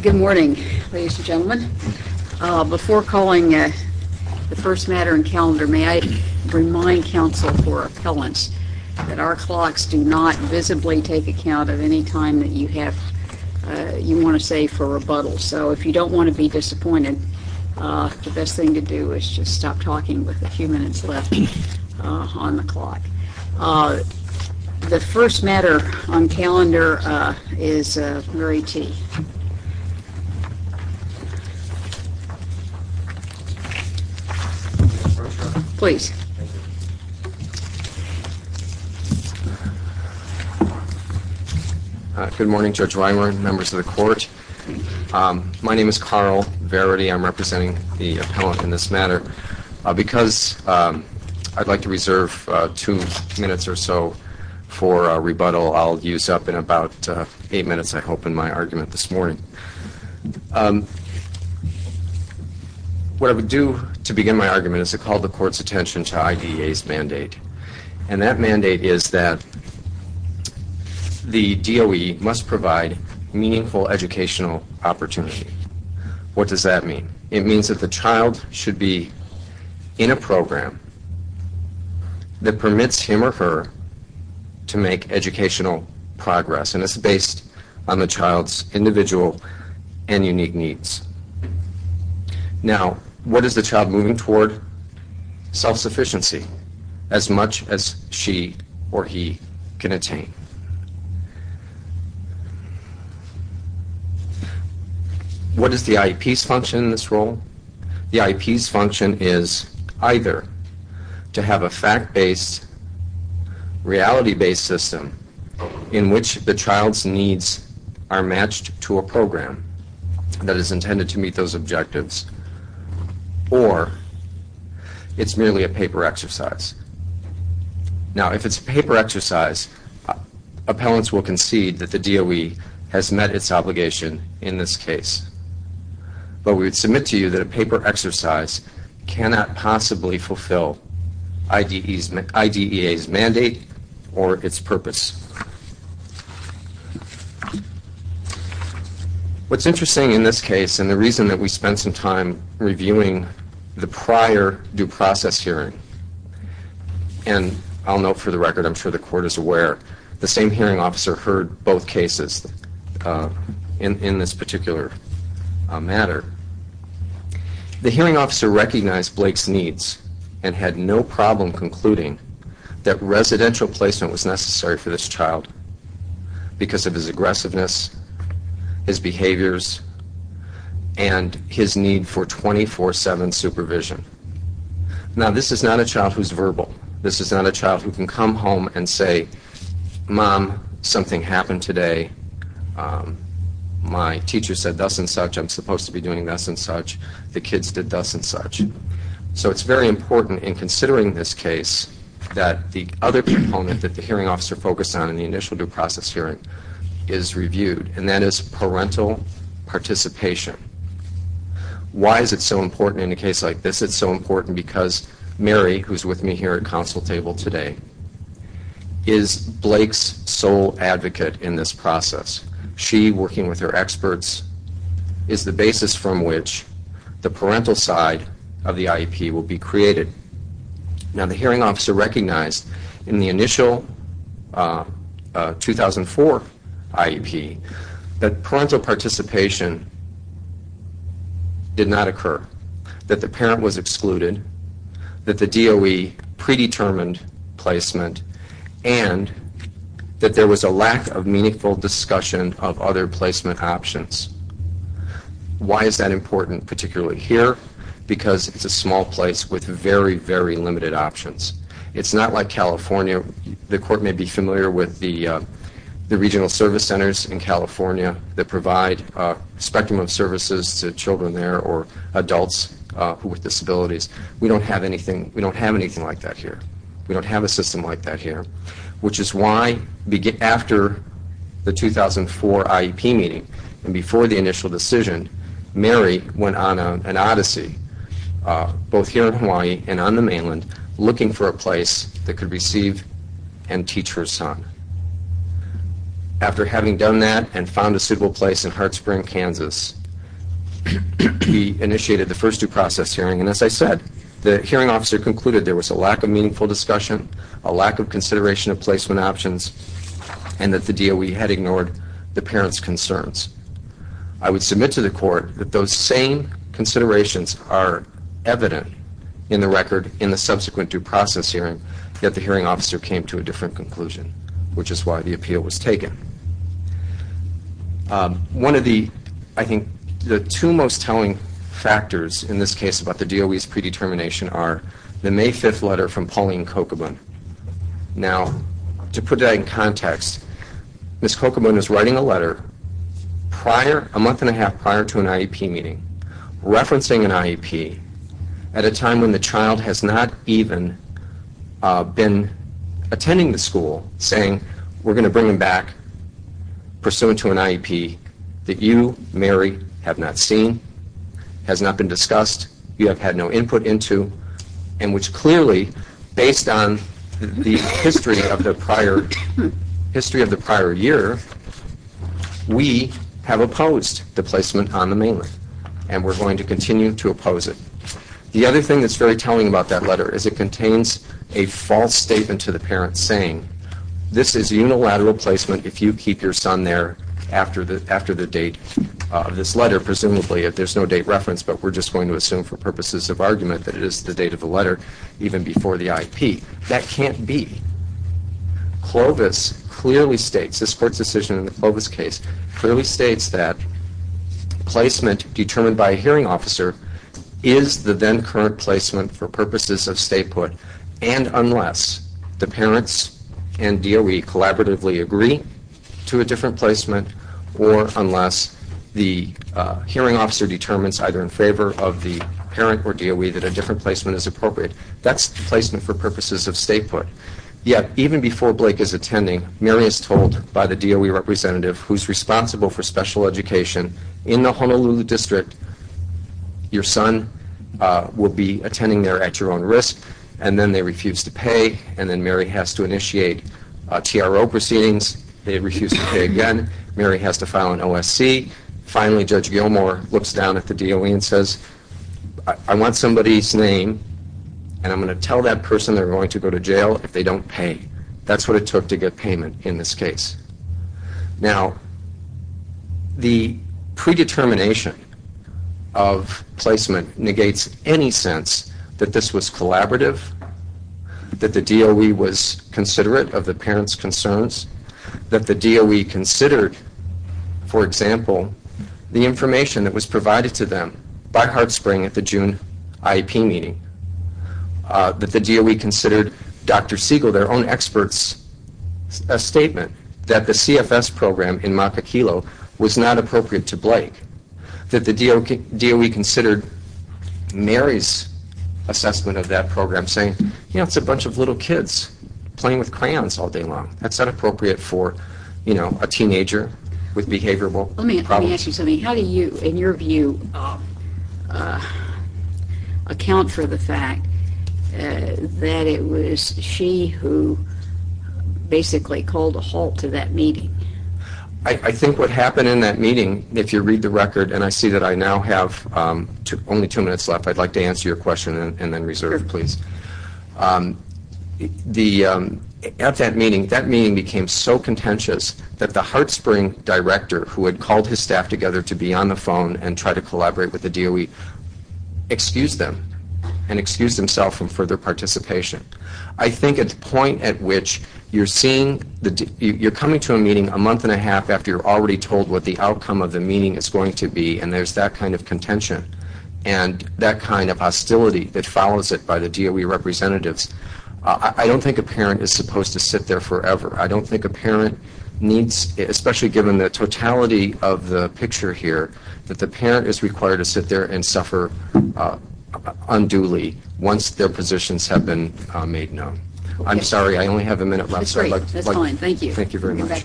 Good morning, ladies and gentlemen. Before calling the first matter in calendar, may I remind council for appellants that our clocks do not visibly take account of any time that you want to save for rebuttal. So if you don't want to be disappointed, the best thing to do is just stop talking with a few minutes left on the clock. The first matter on calendar is Murray T. Please. Good morning, Judge Weimer and members of the court. My name is Carl Verity. I'm representing the appellant in this matter. Because I'd like to reserve two minutes or so for rebuttal. I'll use up in about eight minutes, I hope, in my argument this morning. What I would do to begin my argument is to call the court's attention to IDEA's mandate. And that mandate is that the DOE must provide meaningful educational opportunity. What does that mean? It means that the child should be in a program that permits him or her to make educational progress. And it's based on the child's individual and unique needs. Now, what is the child moving toward? Self-sufficiency. As much as she or he can attain. What is the IEP's function in this role? The IEP's function is either to have a fact-based, reality-based system in which the child's needs are matched to a program that is appellants will concede that the DOE has met its obligation in this case. But we would submit to you that a paper exercise cannot possibly fulfill IDEA's mandate or its purpose. What's interesting in this case, and the reason that we spent some time reviewing the prior due process hearing, and I'll note for the record, I'm sure the court is aware, the same hearing officer heard both cases in this particular matter. The hearing officer recognized Blake's needs and had no problem concluding that residential placement was necessary for this child because of his This is not a child who's verbal. This is not a child who can come home and say, Mom, something happened today. My teacher said thus and such. I'm supposed to be doing thus and such. The kids did thus and such. So it's very important in considering this case that the other component that the hearing officer focused on in the initial due process hearing is reviewed, and that is parental participation. Why is it so important in a case like this? It's so important because Mary, who's with me here at council table today, is Blake's sole advocate in this process. She, working with her experts, is the basis from which the parental side of the IEP will be created. Now the hearing officer recognized in the initial 2004 IEP that parental participation did not occur, that the parent was excluded, that the DOE predetermined placement, and that there was a lack of meaningful discussion of other placement options. Why is that important, particularly here? Because it's a small place with very, very limited options. It's not like California. The court may be familiar with the regional service centers in California that provide a spectrum of services to children there or adults with disabilities. We don't have anything like that here. We don't have a system like that here, which is why after the 2004 IEP meeting and before the initial decision, Mary went on an odyssey, both here in Hawaii and on the mainland, looking for a place that could receive and teach her son. After having done that and found a suitable place in Hartsburg, Kansas, we initiated the first due process hearing, and as I said, the hearing officer concluded there was a lack of meaningful discussion, a lack of consideration of placement options, and that the DOE had ignored the parent's concerns. I would submit to the court that those same considerations are evident in the record in the subsequent due process hearing, yet the hearing officer came to a different conclusion, which is why the appeal was the May 5th letter from Pauline Kokobun. Now, to put that in context, Ms. Kokobun is writing a letter a month and a half prior to an IEP meeting, referencing an IEP at a time when the child has not even been attending the school, saying we're going to bring him back pursuant to an IEP that you, Mary, have not seen, has not been discussed, you have had no input into, and which clearly, based on the history of the prior year, we have opposed the placement on the mainland, and we're going to continue to oppose it. The other thing that's very telling about that letter is it contains a false statement to the parent, saying this is unilateral placement if you keep your son there after the date of this letter. Presumably, there's no date in the document that it is the date of the letter, even before the IEP. That can't be. Clovis clearly states, this court's decision in the Clovis case, clearly states that placement determined by a hearing officer is the then current placement for purposes of statehood, and unless the parents and DOE collaboratively agree to a different placement, or unless the hearing officer determines, either in favor of the parent or DOE, that a different placement is appropriate, that's placement for purposes of statehood. Yet, even before Blake is attending, Mary is told by the DOE representative who's responsible for special education in the Honolulu district, your son will be attending there at your own risk, and then they refuse to pay, and then Mary has to initiate TRO proceedings. They refuse to pay again. Mary has to file an OSC. Finally, Judge Gilmore looks down at the DOE and says, I want somebody's name, and I'm going to tell that person they're going to go to jail if they don't pay. That's what it took to get payment in this case. Now, the predetermination of placement negates any sense that this was collaborative, that the DOE was considerate of the parent's concerns, that the DOE considered, for example, the information that was provided to them by HeartSpring at the June IEP meeting, that the DOE considered Dr. Siegel, their own expert's statement that the CFS program in Makaquilo was not appropriate to Blake, that the DOE considered Mary's assessment of that program, saying, you know, it's a bunch of little kids playing with crayons all day long. That's not appropriate for a teenager with behavioral problems. Let me ask you something. How do you, in your view, account for the fact that it was she who basically called a halt to that meeting? I think what happened in that meeting, if you read the record, and I see that I now have only two minutes left, I'd like to answer your question and then reserve, please. At that meeting, that meeting became so contentious that the HeartSpring director, who had called his staff together to be on the phone and try to collaborate with the DOE, excused them and excused himself from further participation. I think at the point at which you're coming to a meeting a month and a half after you're already told what the outcome of the meeting is going to be, and there's that kind of contention and that kind of hostility that follows it by the DOE representatives, I don't think a parent is supposed to sit there forever. I don't think a parent needs, especially given the totality of the picture here, that the parent can sit there and suffer unduly once their positions have been made known. I'm sorry, I only have a minute left. That's fine. Thank you. Thank you very much.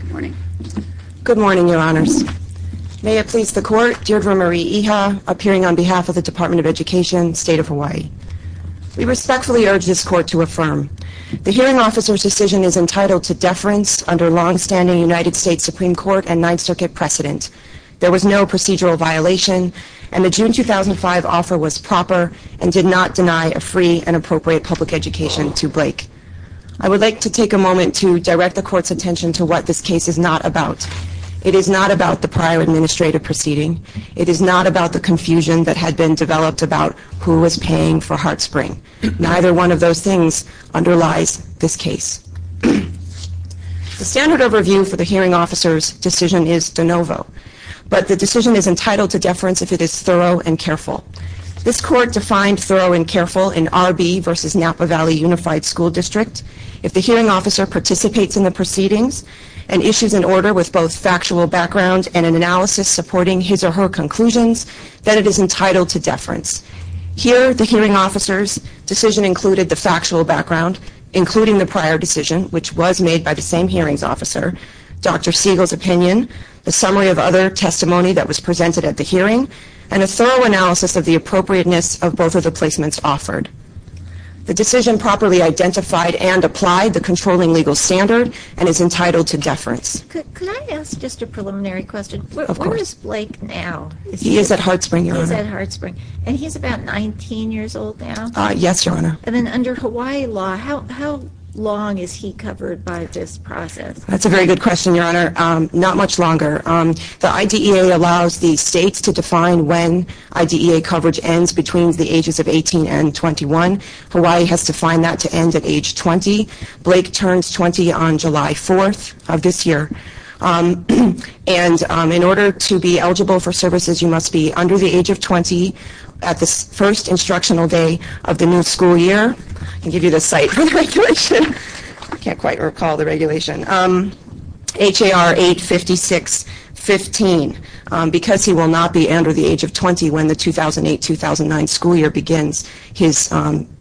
Good morning. Good morning, Your Honors. May it please the Court, Deirdre Marie Iha, appearing on behalf of the Department of Education, State of Hawaii. We respectfully urge this Court to affirm the hearing officer's decision is entitled to deference under longstanding United States Supreme Court and Ninth Circuit precedent. There was no procedural violation, and the June 2005 offer was proper and did not deny a free and appropriate public education to Blake. I would like to take a moment to direct the Court's attention to what this case is not about. It is not about the prior administrative proceeding. It is not about the confusion that had been developed about who was paying for HeartSpring. Neither one of those things underlies this case. The standard overview for the hearing officer's decision is de novo, but the decision is entitled to deference if it is thorough and careful. This Court defined thorough and careful in R.B. v. Napa Valley Unified School District. If the hearing officer participates in the proceedings and issues an order with both then it is entitled to deference. Here, the hearing officer's decision included the factual background, including the prior decision, which was made by the same hearings officer, Dr. Siegel's opinion, the summary of other testimony that was presented at the hearing, and a thorough analysis of the appropriateness of both of the placements offered. The decision properly identified and applied the controlling legal standard and is entitled to deference. Could I ask just a preliminary question? Where is Blake now? He is at HeartSpring, Your Honor. He is at HeartSpring. And he's about 19 years old now? Yes, Your Honor. And then under Hawaii law, how long is he covered by this process? That's a very good question, Your Honor. Not much longer. The IDEA allows the states to define when IDEA coverage ends between the ages of 18 and 21. Hawaii has defined that to end at age 20. Blake turns 20 on July 4th of this year. And in order to be eligible for services, you must be under the age of 20 at the first instructional day of the new school year. I'll give you the site for the regulation. I can't quite recall the regulation. H.A.R. 856-15. Because he will not be under the age of 20 when the 2008-2009 school year begins, his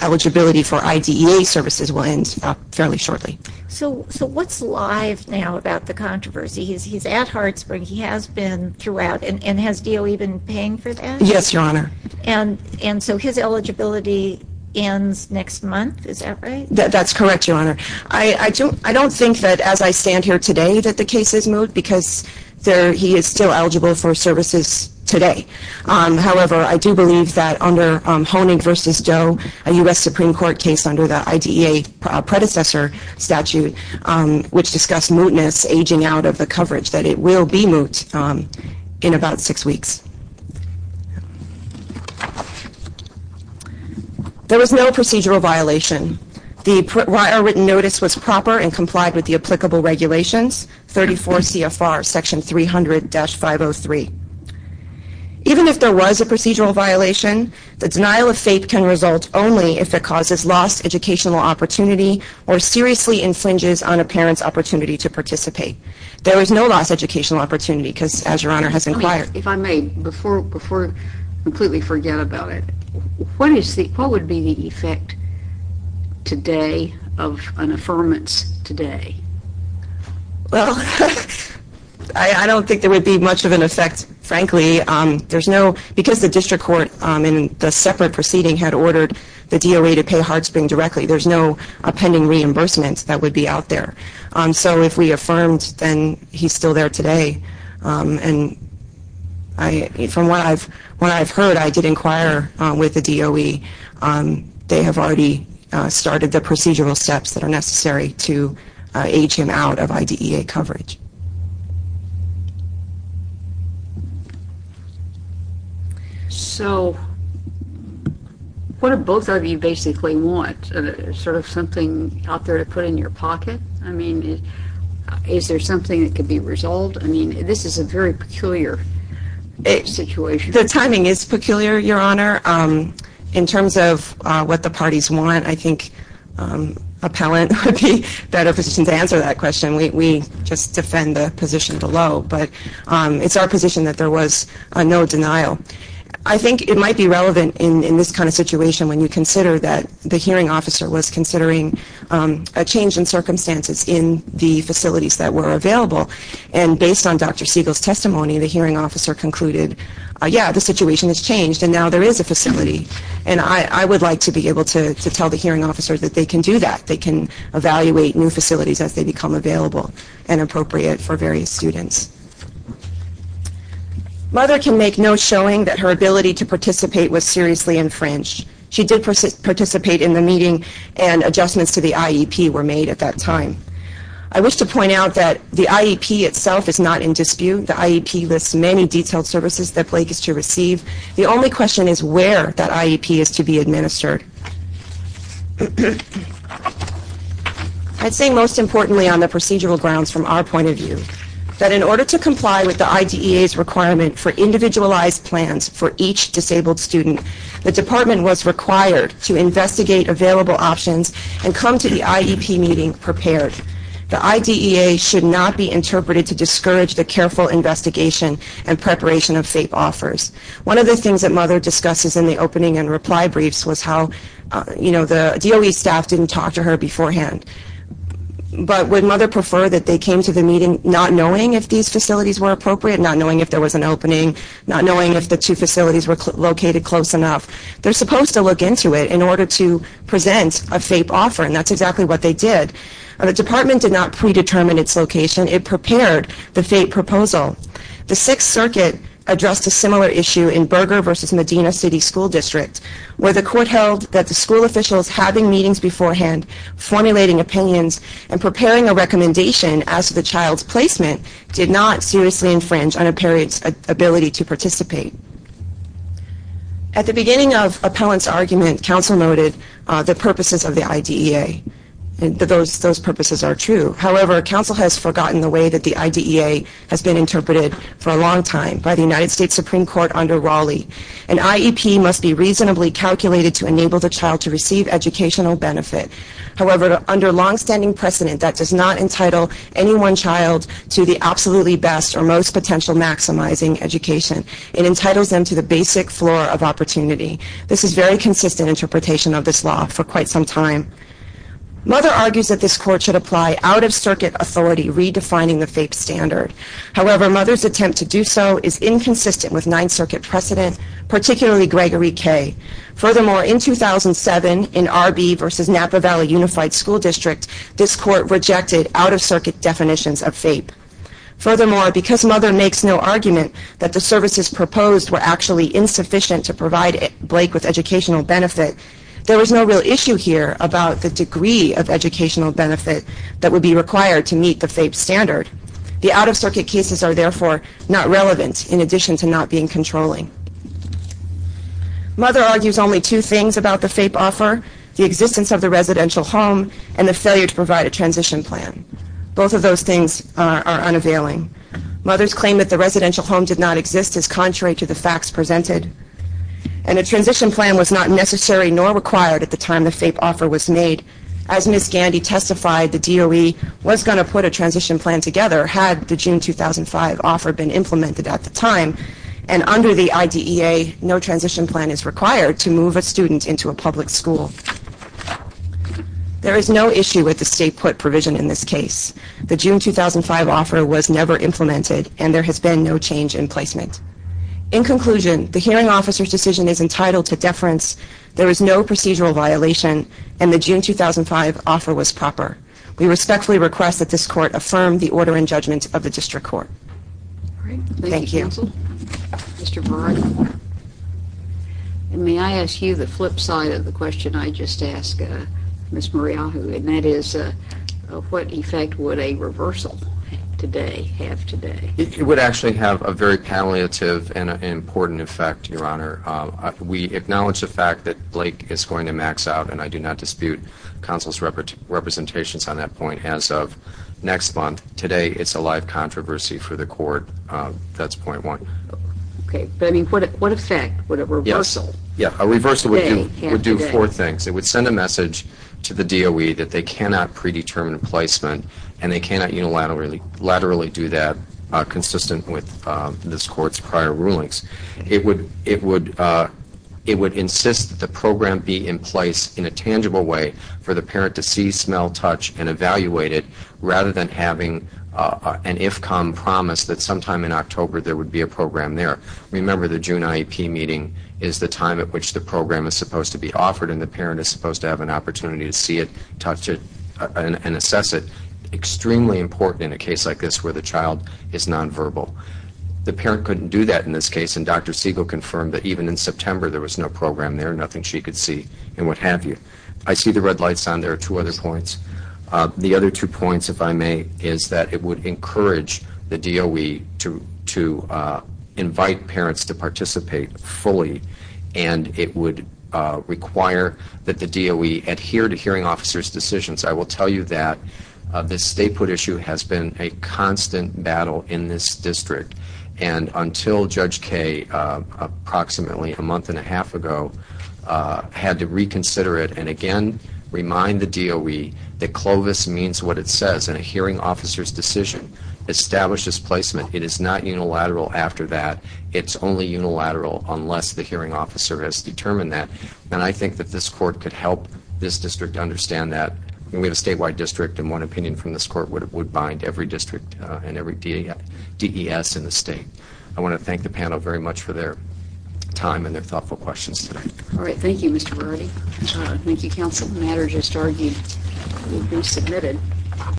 eligibility for IDEA services will end fairly shortly. So what's live now about the controversy? He's at HeartSpring. He has been throughout. And has DOE been paying for that? Yes, Your Honor. And so his eligibility ends next month? Is that right? That's correct, Your Honor. I don't think that as I stand here today that the case is moot because he is still eligible for services today. However, I do believe that under Honig v. Doe, a U.S. Supreme Court case under the IDEA predecessor statute, which discussed mootness aging out of the coverage, that it will be moot in about six weeks. There was no procedural violation. The written notice was proper and complied with the applicable regulations, 34 CFR section 300-503. Even if there was a procedural violation, the denial of FAPE can result only if it causes lost educational opportunity or seriously infringes on a parent's opportunity to participate. There is no lost educational opportunity because, as Your Honor has inquired. If I may, before I completely forget about it, what would be the effect today of an affirmance today? Well, I don't think there would be much of an effect, frankly. Because the district court in the separate proceeding had ordered the DOE to pay HeartSpring directly, there's no pending reimbursement that would be out there. So if we affirmed, then he's still there today. And from what I've heard, I did inquire with the DOE. They have already started the procedural steps that are necessary to age him out of IDEA coverage. So what do both of you basically want? Sort of something out there to put in your pocket? I mean, is there something that could be resolved? I mean, this is a very peculiar situation. The timing is peculiar, Your Honor. In terms of what the parties want, I think appellant would be better positioned to answer that question. We just defend the position below. But it's our position that there was no denial. I think it might be relevant in this kind of situation when you consider that the hearing officer was considering a change in circumstances in the facilities that were available. And based on Dr. Siegel's testimony, the hearing officer concluded, yeah, the situation has changed, and now there is a facility. And I would like to be able to tell the hearing officer that they can do that. They can evaluate new facilities as they become available and appropriate for various students. Mother can make no showing that her ability to participate was seriously infringed. She did participate in the meeting, and adjustments to the IEP were made at that time. I wish to point out that the IEP itself is not in dispute. The IEP lists many detailed services that Blake is to receive. The only question is where that IEP is to be administered. I'd say most importantly on the procedural grounds from our point of view, that in order to comply with the IDEA's requirement for individualized plans for each disabled student, the department was required to investigate available options and come to the IEP meeting prepared. The IDEA should not be interpreted to discourage the careful investigation and preparation of FAPE offers. One of the things that Mother discusses in the opening and reply briefs was how the DOE staff didn't talk to her beforehand. But would Mother prefer that they came to the meeting not knowing if these facilities were appropriate, not knowing if there was an opening, not knowing if the two facilities were located close enough? They're supposed to look into it in order to present a FAPE offer, and that's exactly what they did. The department did not predetermine its location. It prepared the FAPE proposal. The Sixth Circuit addressed a similar issue in Berger v. Medina City School District, where the court held that the school officials having meetings beforehand, formulating opinions, and preparing a recommendation as to the child's placement did not seriously infringe on a parent's ability to participate. At the beginning of Appellant's argument, Counsel noted the purposes of the IDEA. Those purposes are true. However, Counsel has forgotten the way that the IDEA has been interpreted for a long time by the United States Supreme Court under Raleigh. An IEP must be reasonably calculated to enable the child to receive educational benefit. However, under longstanding precedent, that does not entitle any one child to the absolutely best or most potential maximizing education. It entitles them to the basic floor of opportunity. This is a very consistent interpretation of this law for quite some time. Mother argues that this court should apply out-of-circuit authority, redefining the FAPE standard. However, Mother's attempt to do so is inconsistent with Ninth Circuit precedent, particularly Gregory K. Furthermore, in 2007, in R.B. v. Napa Valley Unified School District, this court rejected out-of-circuit definitions of FAPE. Furthermore, because Mother makes no argument that the services proposed were actually insufficient to provide Blake with educational benefit, there was no real issue here about the degree of educational benefit that would be required to meet the FAPE standard. The out-of-circuit cases are therefore not relevant, in addition to not being controlling. Mother argues only two things about the FAPE offer, the existence of the residential home, and the failure to provide a transition plan. Both of those things are unavailing. Mother's claim that the residential home did not exist is contrary to the facts presented. And a transition plan was not necessary nor required at the time the FAPE offer was made. As Ms. Gandy testified, the DOE was going to put a transition plan together had the June 2005 offer been implemented at the time. And under the IDEA, no transition plan is required to move a student into a public school. There is no issue with the state put provision in this case. The June 2005 offer was never implemented, and there has been no change in placement. In conclusion, the hearing officer's decision is entitled to deference. There is no procedural violation, and the June 2005 offer was proper. We respectfully request that this court affirm the order and judgment of the district court. Thank you. Thank you, counsel. Mr. Burrard? May I ask you the flip side of the question I just asked Ms. Moriahu, and that is, what effect would a reversal today have today? It would actually have a very palliative and important effect, Your Honor. We acknowledge the fact that Blake is going to max out, and I do not dispute counsel's representations on that point. As of next month, today, it's a live controversy for the court. That's point one. Okay. But, I mean, what effect would a reversal today have today? Yes. A reversal would do four things. It would send a message to the DOE that they cannot predetermine placement, and they cannot unilaterally do that consistent with this court's prior rulings. It would insist that the program be in place in a tangible way for the parent to see, smell, touch, and evaluate it rather than having an IFCOM promise that sometime in October there would be a program there. Remember, the June IEP meeting is the time at which the program is supposed to be offered, and the parent is supposed to have an opportunity to see it, touch it, and assess it. Extremely important in a case like this where the child is nonverbal. The parent couldn't do that in this case, and Dr. Siegel confirmed that even in September there was no program there, nothing she could see, and what have you. I see the red lights on. There are two other points. The other two points, if I may, is that it would encourage the DOE to invite parents to participate fully, and it would require that the DOE adhere to hearing officers' decisions. I will tell you that this statehood issue has been a constant battle in this district, until Judge Kaye approximately a month and a half ago had to reconsider it and again remind the DOE that Clovis means what it says in a hearing officer's decision. Establish this placement. It is not unilateral after that. It's only unilateral unless the hearing officer has determined that, and I think that this court could help this district understand that. We have a statewide district, and one opinion from this court would bind every district and every DES in the state. I want to thank the panel very much for their time and their thoughtful questions today. All right. Thank you, Mr. Verratti. Thank you, counsel. The matter just argued will be submitted.